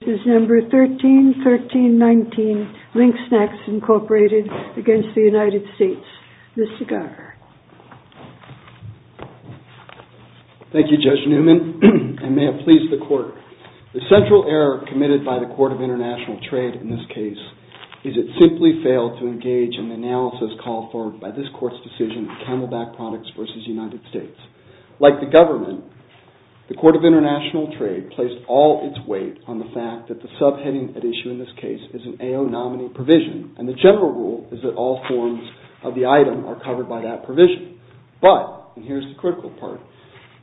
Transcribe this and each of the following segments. This is number 13-13-19, LINK SNACKS, Incorporated, against the United States. Mr. Garver. Thank you, Judge Newman, and may it please the Court. The central error committed by the Court of International Trade in this case is it simply failed to engage in the analysis called for by this Court's decision, Camelback Products v. United States. Like the government, the Court of International Trade placed all its weight on the fact that the subheading at issue in this case is an AO nominee provision, and the general rule is that all forms of the item are covered by that provision. But, and here's the critical part,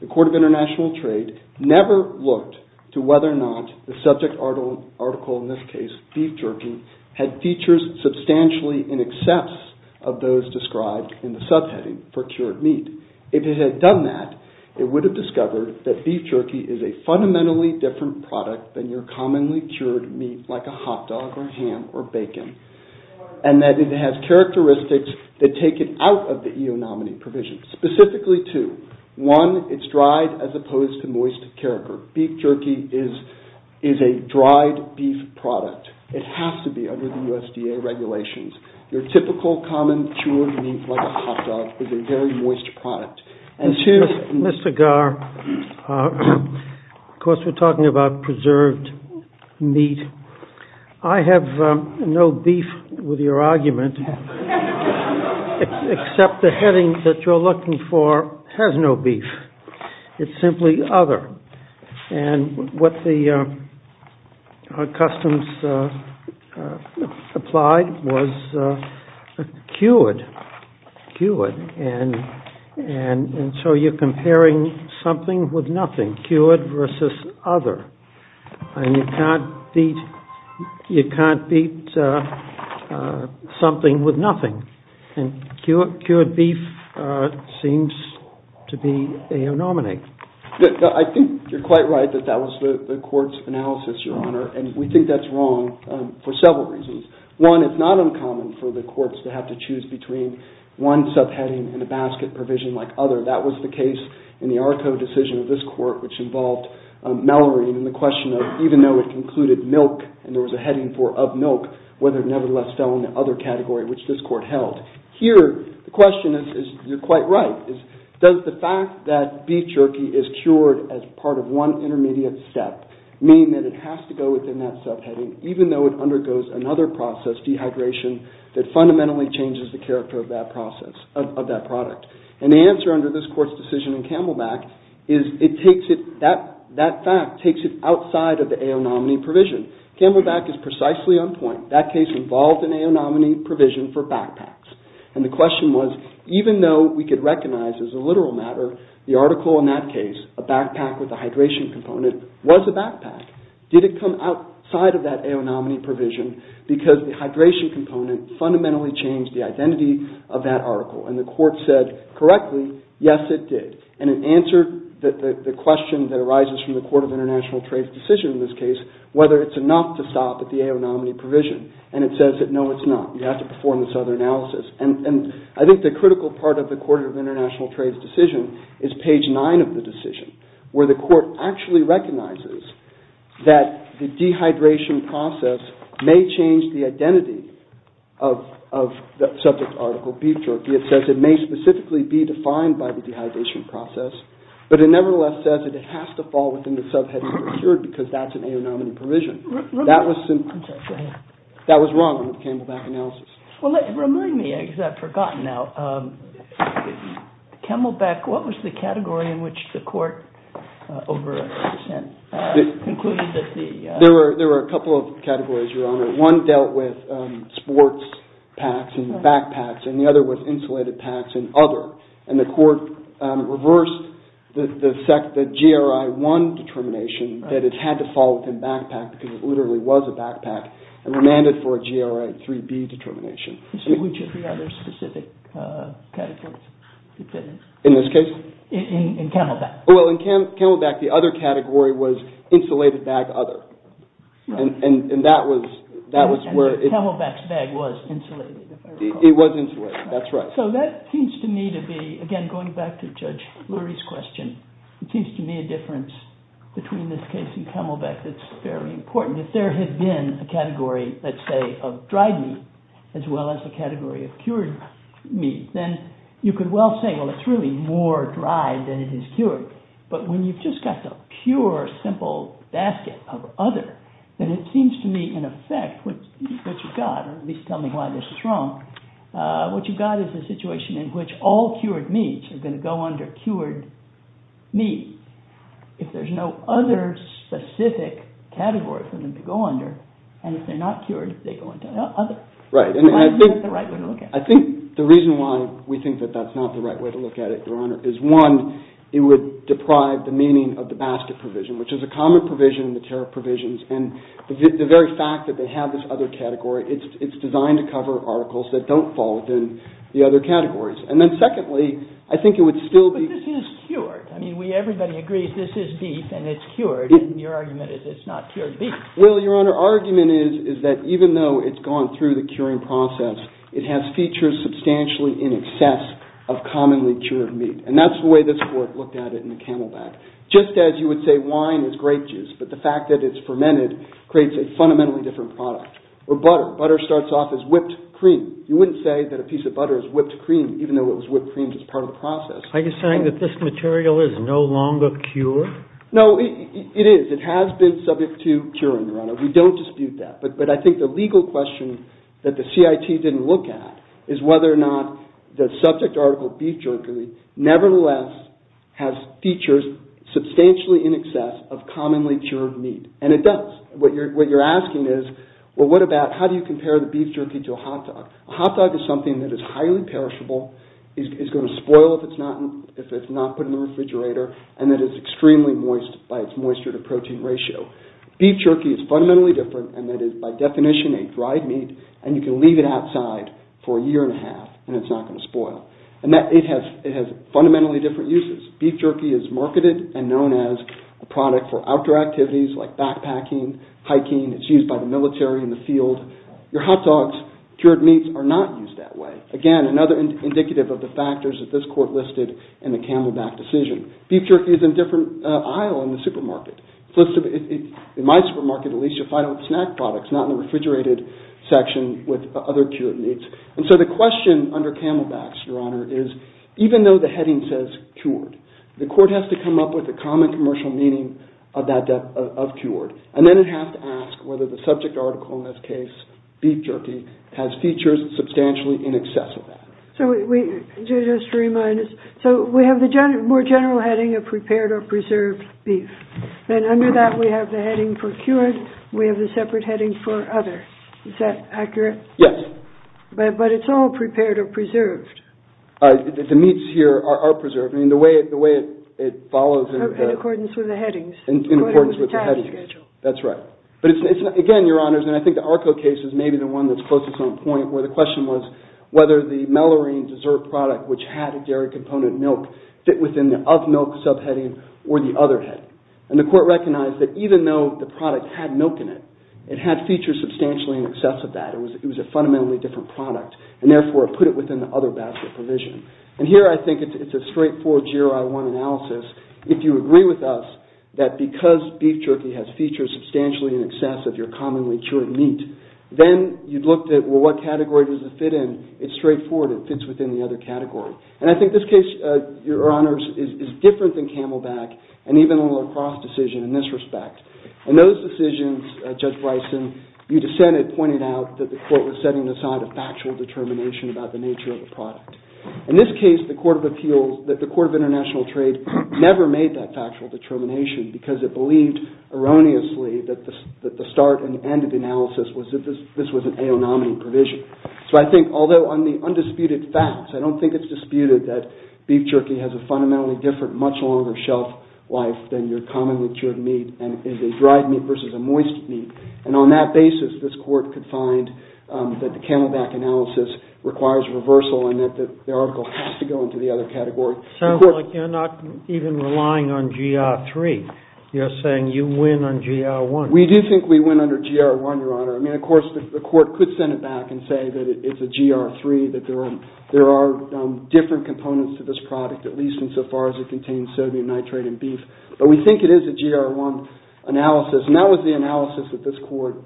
the Court of International Trade never looked to whether or not the subject article, in this case, beef jerky, had features substantially in excess of those described in the subheading for cured meat. If it had done that, it would have discovered that beef jerky is a fundamentally different product than your commonly cured meat like a hot dog or ham or bacon, and that it has characteristics that take it out of the AO nominee provision, specifically two. One, it's dried as opposed to moist character. Beef jerky is a dried beef product. It has to be under the USDA regulations. Your typical common cured meat like a hot dog is a very moist product. And to Mr. Garr, of course we're talking about preserved meat. I have no beef with your argument, except the heading that you're looking for has no beef. It's simply other, and what the customs applied was cured, cured, and so you're comparing something with nothing, cured versus other, and you can't beat something with nothing. And cured beef seems to be AO nominee. I think you're quite right that that was the court's analysis, Your Honor, and we think that's wrong for several reasons. One, it's not uncommon for the courts to have to choose between one subheading and a basket provision like other. That was the case in the ARCO decision of this court, which involved Mallory in the question of even though it included milk, and there was a heading for of milk, whether it nevertheless fell in the other category, which this court held. Here, the question is, you're quite right, does the fact that beef jerky is cured as part of one intermediate step mean that it has to go within that subheading, even though it undergoes another process, dehydration, that fundamentally changes the character of that product? And the answer under this court's decision in Camelback is that fact takes it outside of the AO nominee provision. And Camelback is precisely on point. That case involved an AO nominee provision for backpacks. And the question was, even though we could recognize as a literal matter the article in that case, a backpack with a hydration component was a backpack, did it come outside of that AO nominee provision because the hydration component fundamentally changed the identity of that article? And the court said correctly, yes, it did. And it answered the question that arises from the Court of International Trade's decision in this case, whether it's enough to stop at the AO nominee provision. And it says that, no, it's not. You have to perform this other analysis. And I think the critical part of the Court of International Trade's decision is page nine of the decision, where the court actually recognizes that the dehydration process may change the identity of the subject article, beef jerky. It says it may specifically be defined by the dehydration process, but it nevertheless says that it has to fall within the subheading procured because that's an AO nominee provision. That was wrong in the Camelback analysis. Well, remind me, because I've forgotten now, Camelback, what was the category in which the court over a percent concluded that the... There were a couple of categories, Your Honor. One was insulated bags and other, and the court reversed the GRI-1 determination that it had to fall within backpack because it literally was a backpack and remanded for a GRI-3B determination. Which of the other specific categories? In this case? In Camelback. Well, in Camelback, the other category was insulated bag other. And Camelback's bag was insulated. It was insulated, that's right. So that seems to me to be, again, going back to Judge Lurie's question, it seems to me a difference between this case and Camelback that's very important. If there had been a category, let's say, of dried meat as well as a category of cured meat, then you could well say, well, it's really more dried than it is cured. But when you've just got the pure, simple basket of other, then it seems to me, in effect, what you've got, or at least tell me why this is wrong, what you've got is a situation in which all cured meats are going to go under cured meat. If there's no other specific category for them to go under, and if they're not cured, they go into other. Why is that the right way to look at it? I think the reason why we think that that's not the right way to look at it, Your Honor, is one, it would deprive the meaning of the basket provision, which is a common provision in the tariff provisions. And the very fact that they have this other category, it's designed to cover articles that don't fall within the other categories. But this is cured. I mean, everybody agrees this is beef and it's cured, and your argument is it's not cured beef. Well, Your Honor, our argument is that even though it's gone through the curing process, it has features substantially in excess of commonly cured meat. And that's the way this Court looked at it in the Camelback. Just as you would say wine is grape juice, but the fact that it's fermented creates a fundamentally different product. Or butter. Butter starts off as whipped cream. You wouldn't say that a piece of butter is whipped cream, even though it was whipped cream as part of the process. Are you saying that this material is no longer cured? No, it is. It has been subject to curing, Your Honor. We don't dispute that. But I think the legal question that the CIT didn't look at is whether or not the subject article, beef jerky, nevertheless has features substantially in excess of commonly cured meat. And it does. What you're asking is, well, how do you compare the beef jerky to a hot dog? A hot dog is something that is highly perishable, is going to spoil if it's not put in the refrigerator, and that is extremely moist by its moisture-to-protein ratio. Beef jerky is fundamentally different, and that is, by definition, a dried meat, and you can leave it outside for a year and a half, and it's not going to spoil. And it has fundamentally different uses. Beef jerky is marketed and known as a product for outdoor activities, like backpacking, hiking. It's used by the military in the field. Your hot dogs, cured meats, are not used that way. Again, another indicative of the factors that this Court listed in the Camelback decision. And so the question under Camelbacks, Your Honor, is even though the heading says cured, the Court has to come up with a common commercial meaning of cured, and then it has to ask whether the subject article in this case, beef jerky, has features substantially in excess of that. So just to remind us, so we have the more general heading of prepared or preserved beef, and under that we have the heading for cured, we have the separate heading for other. Is that accurate? The meats here are preserved. I mean, the way it follows... In accordance with the headings. In accordance with the headings. That's right. But again, Your Honors, and I think the ARCO case is maybe the one that's closest on point, where the question was whether the mellorine dessert product, which had a dairy component milk, fit within the of milk subheading or the other heading. And the Court recognized that even though the product had milk in it, it had features substantially in excess of that. It was a fundamentally different product, and therefore it put it within the other basket provision. And here I think it's a straightforward GRI-1 analysis. If you agree with us that because beef jerky has features substantially in excess of your commonly cured meat, then you'd look at, well, what category does it fit in? It's straightforward. It fits within the other category. And I think this case, Your Honors, is different than Camelback and even the La Crosse decision in this respect. And those decisions, Judge Bryson, you dissented, pointed out, that the Court was setting aside a factual determination about the nature of the product. In this case, the Court of Appeals, that the Court of International Trade, never made that factual determination because it believed erroneously that the start and end of the analysis was that this was an A.O. nominee provision. So I think, although on the undisputed facts, I don't think it's disputed that beef jerky has a fundamentally different, much longer shelf life than your commonly cured meat and is a dried meat versus a moist meat. And on that basis, this Court could find that the Camelback analysis requires reversal and that the article has to go into the other category. It sounds like you're not even relying on GRI-3. You're saying you win on GRI-1. We do think we win under GRI-1, Your Honor. I mean, of course, the Court could send it back and say that it's a GRI-3, that there are different components to this product, at least insofar as it contains sodium nitrate in beef. But we think it is a GRI-1 analysis, and that was the analysis that this Court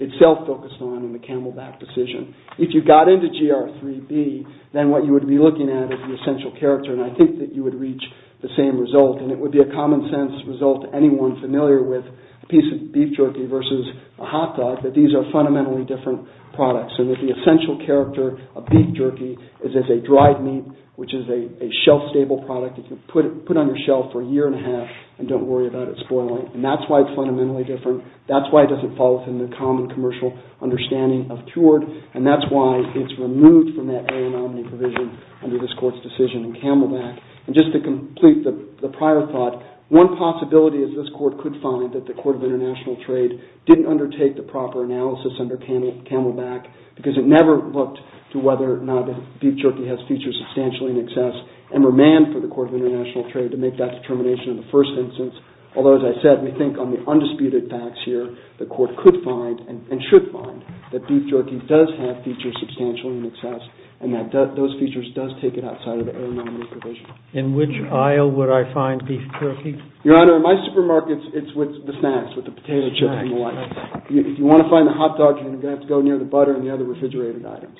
itself focused on in the Camelback decision. If you got into GRI-3B, then what you would be looking at is the essential character, and I think that you would reach the same result. And it would be a common-sense result to anyone familiar with a piece of beef jerky versus a hot dog, that these are fundamentally different products and that the essential character of beef jerky is as a dried meat, which is a shelf-stable product that you can put on your shelf for a year and a half and don't worry about it spoiling. And that's why it's fundamentally different. That's why it doesn't fall within the common commercial understanding of cured, and that's why it's removed from that area-nominee provision under this Court's decision in Camelback. And just to complete the prior thought, one possibility is this Court could find that the Court of International Trade didn't undertake the proper analysis under Camelback because it never looked to whether or not beef jerky has features substantially in excess and remanded for the Court of International Trade to make that determination in the first instance. Although, as I said, we think on the undisputed facts here, the Court could find and should find that beef jerky does have features substantially in excess and that those features does take it outside of the area-nominee provision. In which aisle would I find beef jerky? Your Honor, in my supermarkets, it's with the snacks, with the potato chips and the whatnot. If you want to find the hot dogs, you're going to have to go near the butter and the other refrigerated items.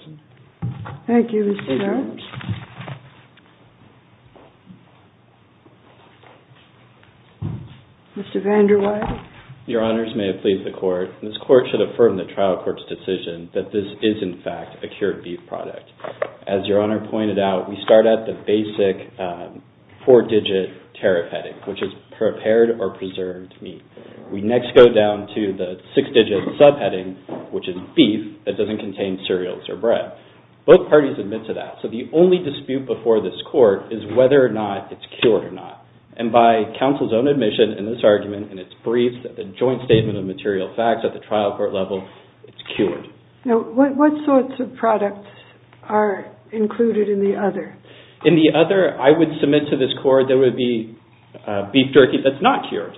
Thank you, Mr. Stern. Thank you very much. Mr. Van Der Weide. Your Honors, may it please the Court, this Court should affirm the trial court's decision that this is, in fact, a cured beef product. As Your Honor pointed out, we start at the basic four-digit tariff heading, which is prepared or preserved meat. We next go down to the six-digit subheading, which is beef that doesn't contain cereals or bread. Both parties admit to that. So the only dispute before this Court is whether or not it's cured or not. And by counsel's own admission in this argument, and it's briefed at the joint statement of material facts at the trial court level, it's cured. Now, what sorts of products are included in the other? In the other, I would submit to this Court there would be beef jerky that's not cured.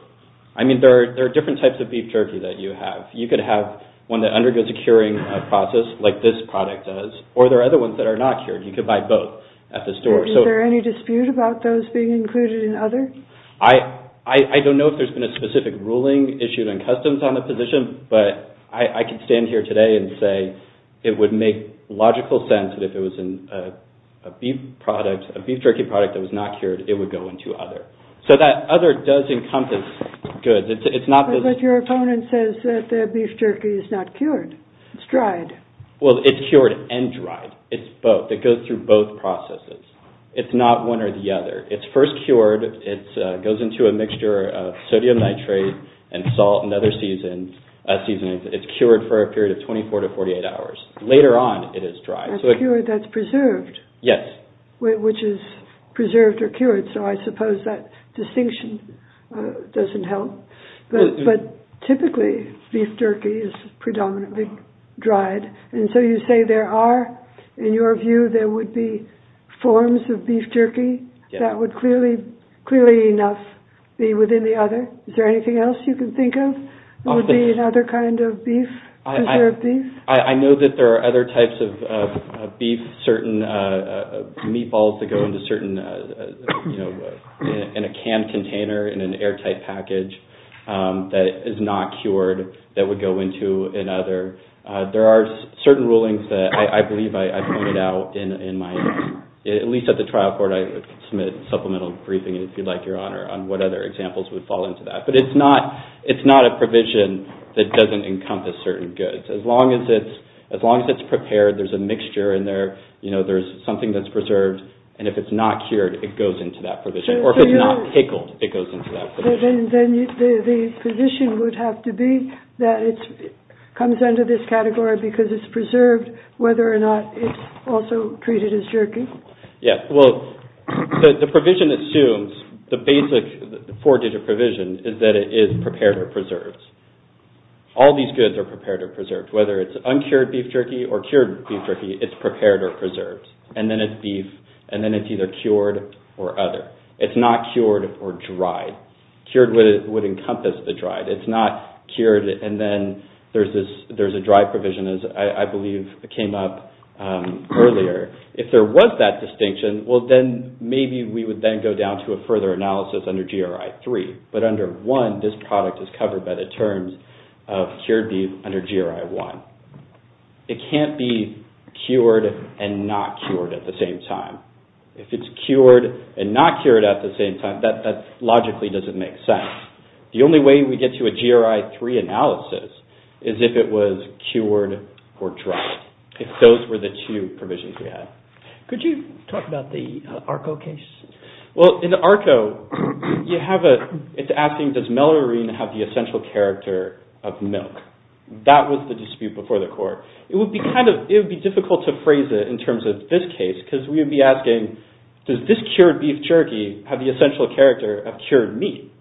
I mean, there are different types of beef jerky that you have. You could have one that undergoes a curing process, like this product does, or there are other ones that are not cured. You could buy both at the store. Is there any dispute about those being included in other? I don't know if there's been a specific ruling issued on customs on the position, but I can stand here today and say it would make logical sense that if it was a beef jerky product that was not cured, it would go into other. So that other does encompass goods. But your opponent says that the beef jerky is not cured. It's dried. Well, it's cured and dried. It's both. It goes through both processes. It's not one or the other. It's first cured. It goes into a mixture of sodium nitrate and salt and other seasonings. It's cured for a period of 24 to 48 hours. Later on, it is dried. That's preserved. Yes. Which is preserved or cured, so I suppose that distinction doesn't help. But typically, beef jerky is predominantly dried. And so you say there are, in your view, there would be forms of beef jerky that would clearly enough be within the other. Is there anything else you can think of that would be another kind of beef, preserved beef? I know that there are other types of beef, certain meatballs that go into certain, you know, in a canned container, in an airtight package that is not cured that would go into another. There are certain rulings that I believe I pointed out in my, at least at the trial court, I submit supplemental briefing, if you'd like, Your Honor, on what other examples would fall into that. But it's not a provision that doesn't encompass certain goods. As long as it's prepared, there's a mixture in there, you know, there's something that's preserved, and if it's not cured, it goes into that provision. Or if it's not pickled, it goes into that provision. Then the provision would have to be that it comes under this category because it's preserved, whether or not it's also treated as jerky. Yeah, well, the provision assumes, the basic four-digit provision is that it is prepared or preserved. All these goods are prepared or preserved. Whether it's uncured beef jerky or cured beef jerky, it's prepared or preserved. And then it's beef, and then it's either cured or other. It's not cured or dried. Cured would encompass the dried. It's not cured, and then there's a dry provision, as I believe came up earlier. If there was that distinction, well, then maybe we would then go down to a further analysis under GRI 3. But under 1, this product is covered by the terms of cured beef under GRI 1. It can't be cured and not cured at the same time. If it's cured and not cured at the same time, that logically doesn't make sense. The only way we get to a GRI 3 analysis is if it was cured or dried, if those were the two provisions we had. Could you talk about the ARCO case? Well, in ARCO, it's asking, does melurine have the essential character of milk? That was the dispute before the court. It would be difficult to phrase it in terms of this case because we would be asking, does this cured beef jerky have the essential character of cured meat?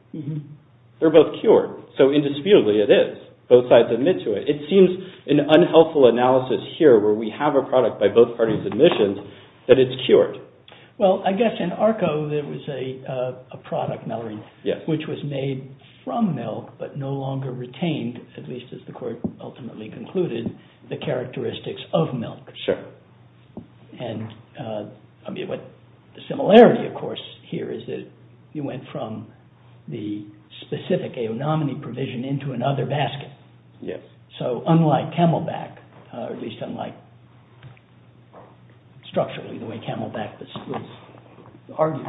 They're both cured, so indisputably it is. Both sides admit to it. It seems an unhelpful analysis here where we have a product by both parties' admissions that it's cured. Well, I guess in ARCO, there was a product, melurine, which was made from milk but no longer retained, at least as the court ultimately concluded, the characteristics of milk. Sure. And the similarity, of course, here is that you went from the specific aonomany provision into another basket. Yes. So unlike Camelback, or at least unlike structurally the way Camelback was argued,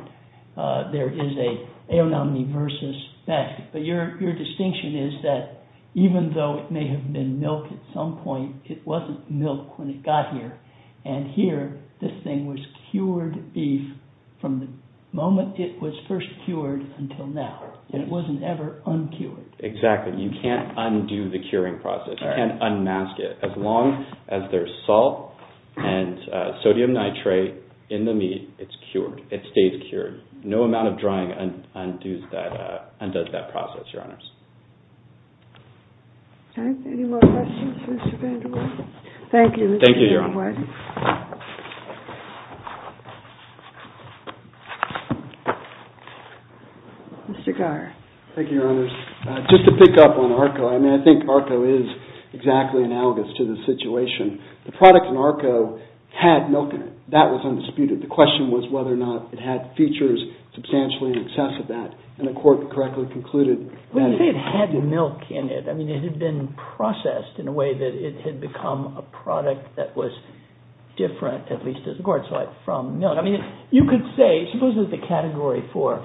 there is a aonomany versus basket. But your distinction is that even though it may have been milk at some point, it wasn't milk when it got here. And here, this thing was cured beef from the moment it was first cured until now. It wasn't ever uncured. Exactly. You can't undo the curing process. You can't unmask it. As long as there's salt and sodium nitrate in the meat, it's cured. It stays cured. No amount of drying undoes that process, Your Honors. Okay. Any more questions? Thank you. Thank you, Your Honor. Mr. Geyer. Thank you, Your Honors. Just to pick up on ARCO, I mean, I think ARCO is exactly analogous to the situation. The product in ARCO had milk in it. That was undisputed. The question was whether or not it had features substantially in excess of that. And the court correctly concluded that it had milk in it. I mean, it had been processed in a way that it had become a product that was different, at least as the court saw it, from milk. I mean, you could say, suppose there's a category for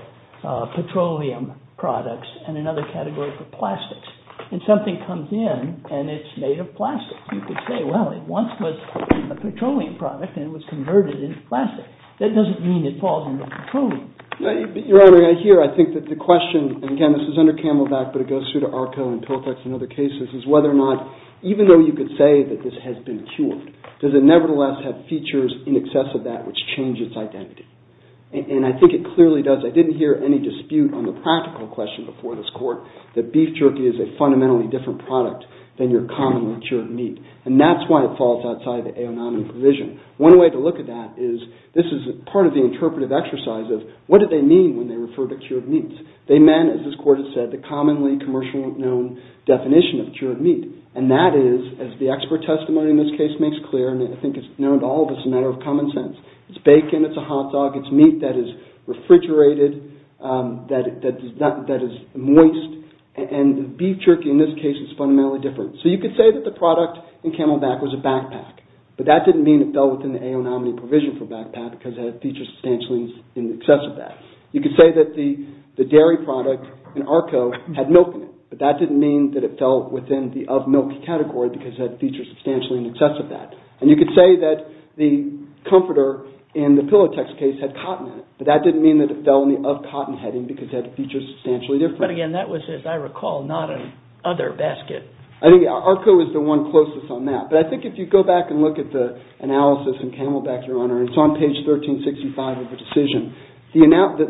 petroleum products and another category for plastics. And something comes in, and it's made of plastic. You could say, well, it once was a petroleum product, and it was converted into plastic. That doesn't mean it falls under petroleum. Your Honor, I hear. I think that the question, and again, this is under Camelback, but it goes through to ARCO and Piltex and other cases, is whether or not, even though you could say that this has been cured, does it nevertheless have features in excess of that which change its identity? And I think it clearly does. I didn't hear any dispute on the practical question before this court that beef jerky is a fundamentally different product than your commonly cured meat. And that's why it falls outside the aonomic provision. One way to look at that is this is part of the interpretive exercise of what do they mean when they refer to cured meats? They meant, as this court has said, the commonly commercially known definition of cured meat. And that is, as the expert testimony in this case makes clear, and I think it's known to all of us, a matter of common sense. It's bacon, it's a hot dog, it's meat that is refrigerated, that is moist, and beef jerky in this case is fundamentally different. So you could say that the product in Camelback was a backpack. But that didn't mean it fell within the aonomic provision for backpack because it had features substantially in excess of that. You could say that the dairy product in ARCO had milk in it. But that didn't mean that it fell within the of milk category because it had features substantially in excess of that. And you could say that the comforter in the Pilotex case had cotton in it. But that didn't mean that it fell in the of cotton heading because it had features substantially different. But again, that was, as I recall, not an other basket. I think ARCO is the one closest on that. But I think if you go back and look at the analysis in Camelback, Your Honor, it's on page 1365 of the decision. The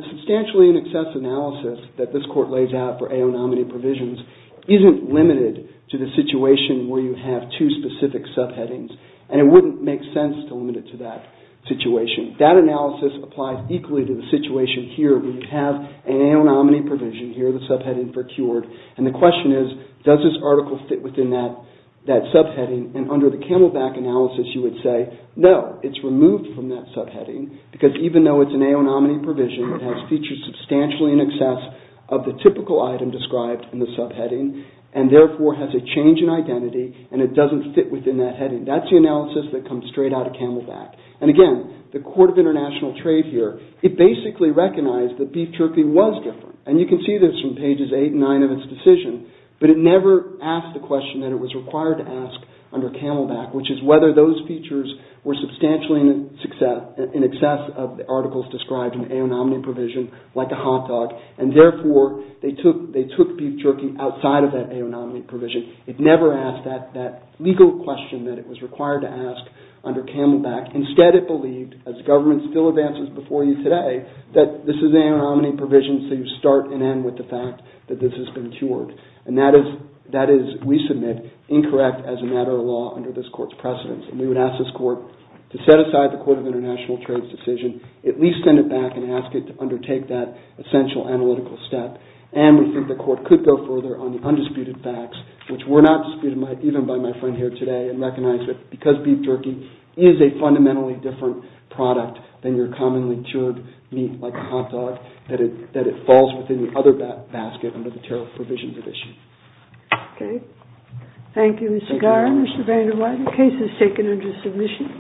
substantially in excess analysis that this court lays out for aonomity provisions isn't limited to the situation where you have two specific subheadings. And it wouldn't make sense to limit it to that situation. That analysis applies equally to the situation here where you have an aonomity provision here, the subheading for cured. And the question is, does this article fit within that subheading? And under the Camelback analysis, you would say, no, it's removed from that subheading because even though it's an aonomity provision, it has features substantially in excess of the typical item described in the subheading and therefore has a change in identity and it doesn't fit within that heading. That's the analysis that comes straight out of Camelback. And again, the Court of International Trade here, it basically recognized that beef jerky was different. And you can see this from pages 8 and 9 of its decision. But it never asked the question that it was required to ask under Camelback, which is whether those features were substantially in excess of the articles described in the aonomity provision, like a hot dog, and therefore they took beef jerky outside of that aonomity provision. It never asked that legal question that it was required to ask under Camelback. Instead, it believed, as government still advances before you today, that this is an aonomity provision, so you start and end with the fact that this has been cured. And that is, we submit, incorrect as a matter of law under this Court's precedence. And we would ask this Court to set aside the Court of International Trade's decision, at least send it back and ask it to undertake that essential analytical step. And we think the Court could go further on the undisputed facts, which were not disputed even by my friend here today, and recognize that because beef jerky is a fundamentally different product than your commonly cured meat like a hot dog, that it falls within the other basket under the tariff provisions at issue. Okay. Thank you, Mr. Garan. Mr. Van der Weide, the case is taken under submission.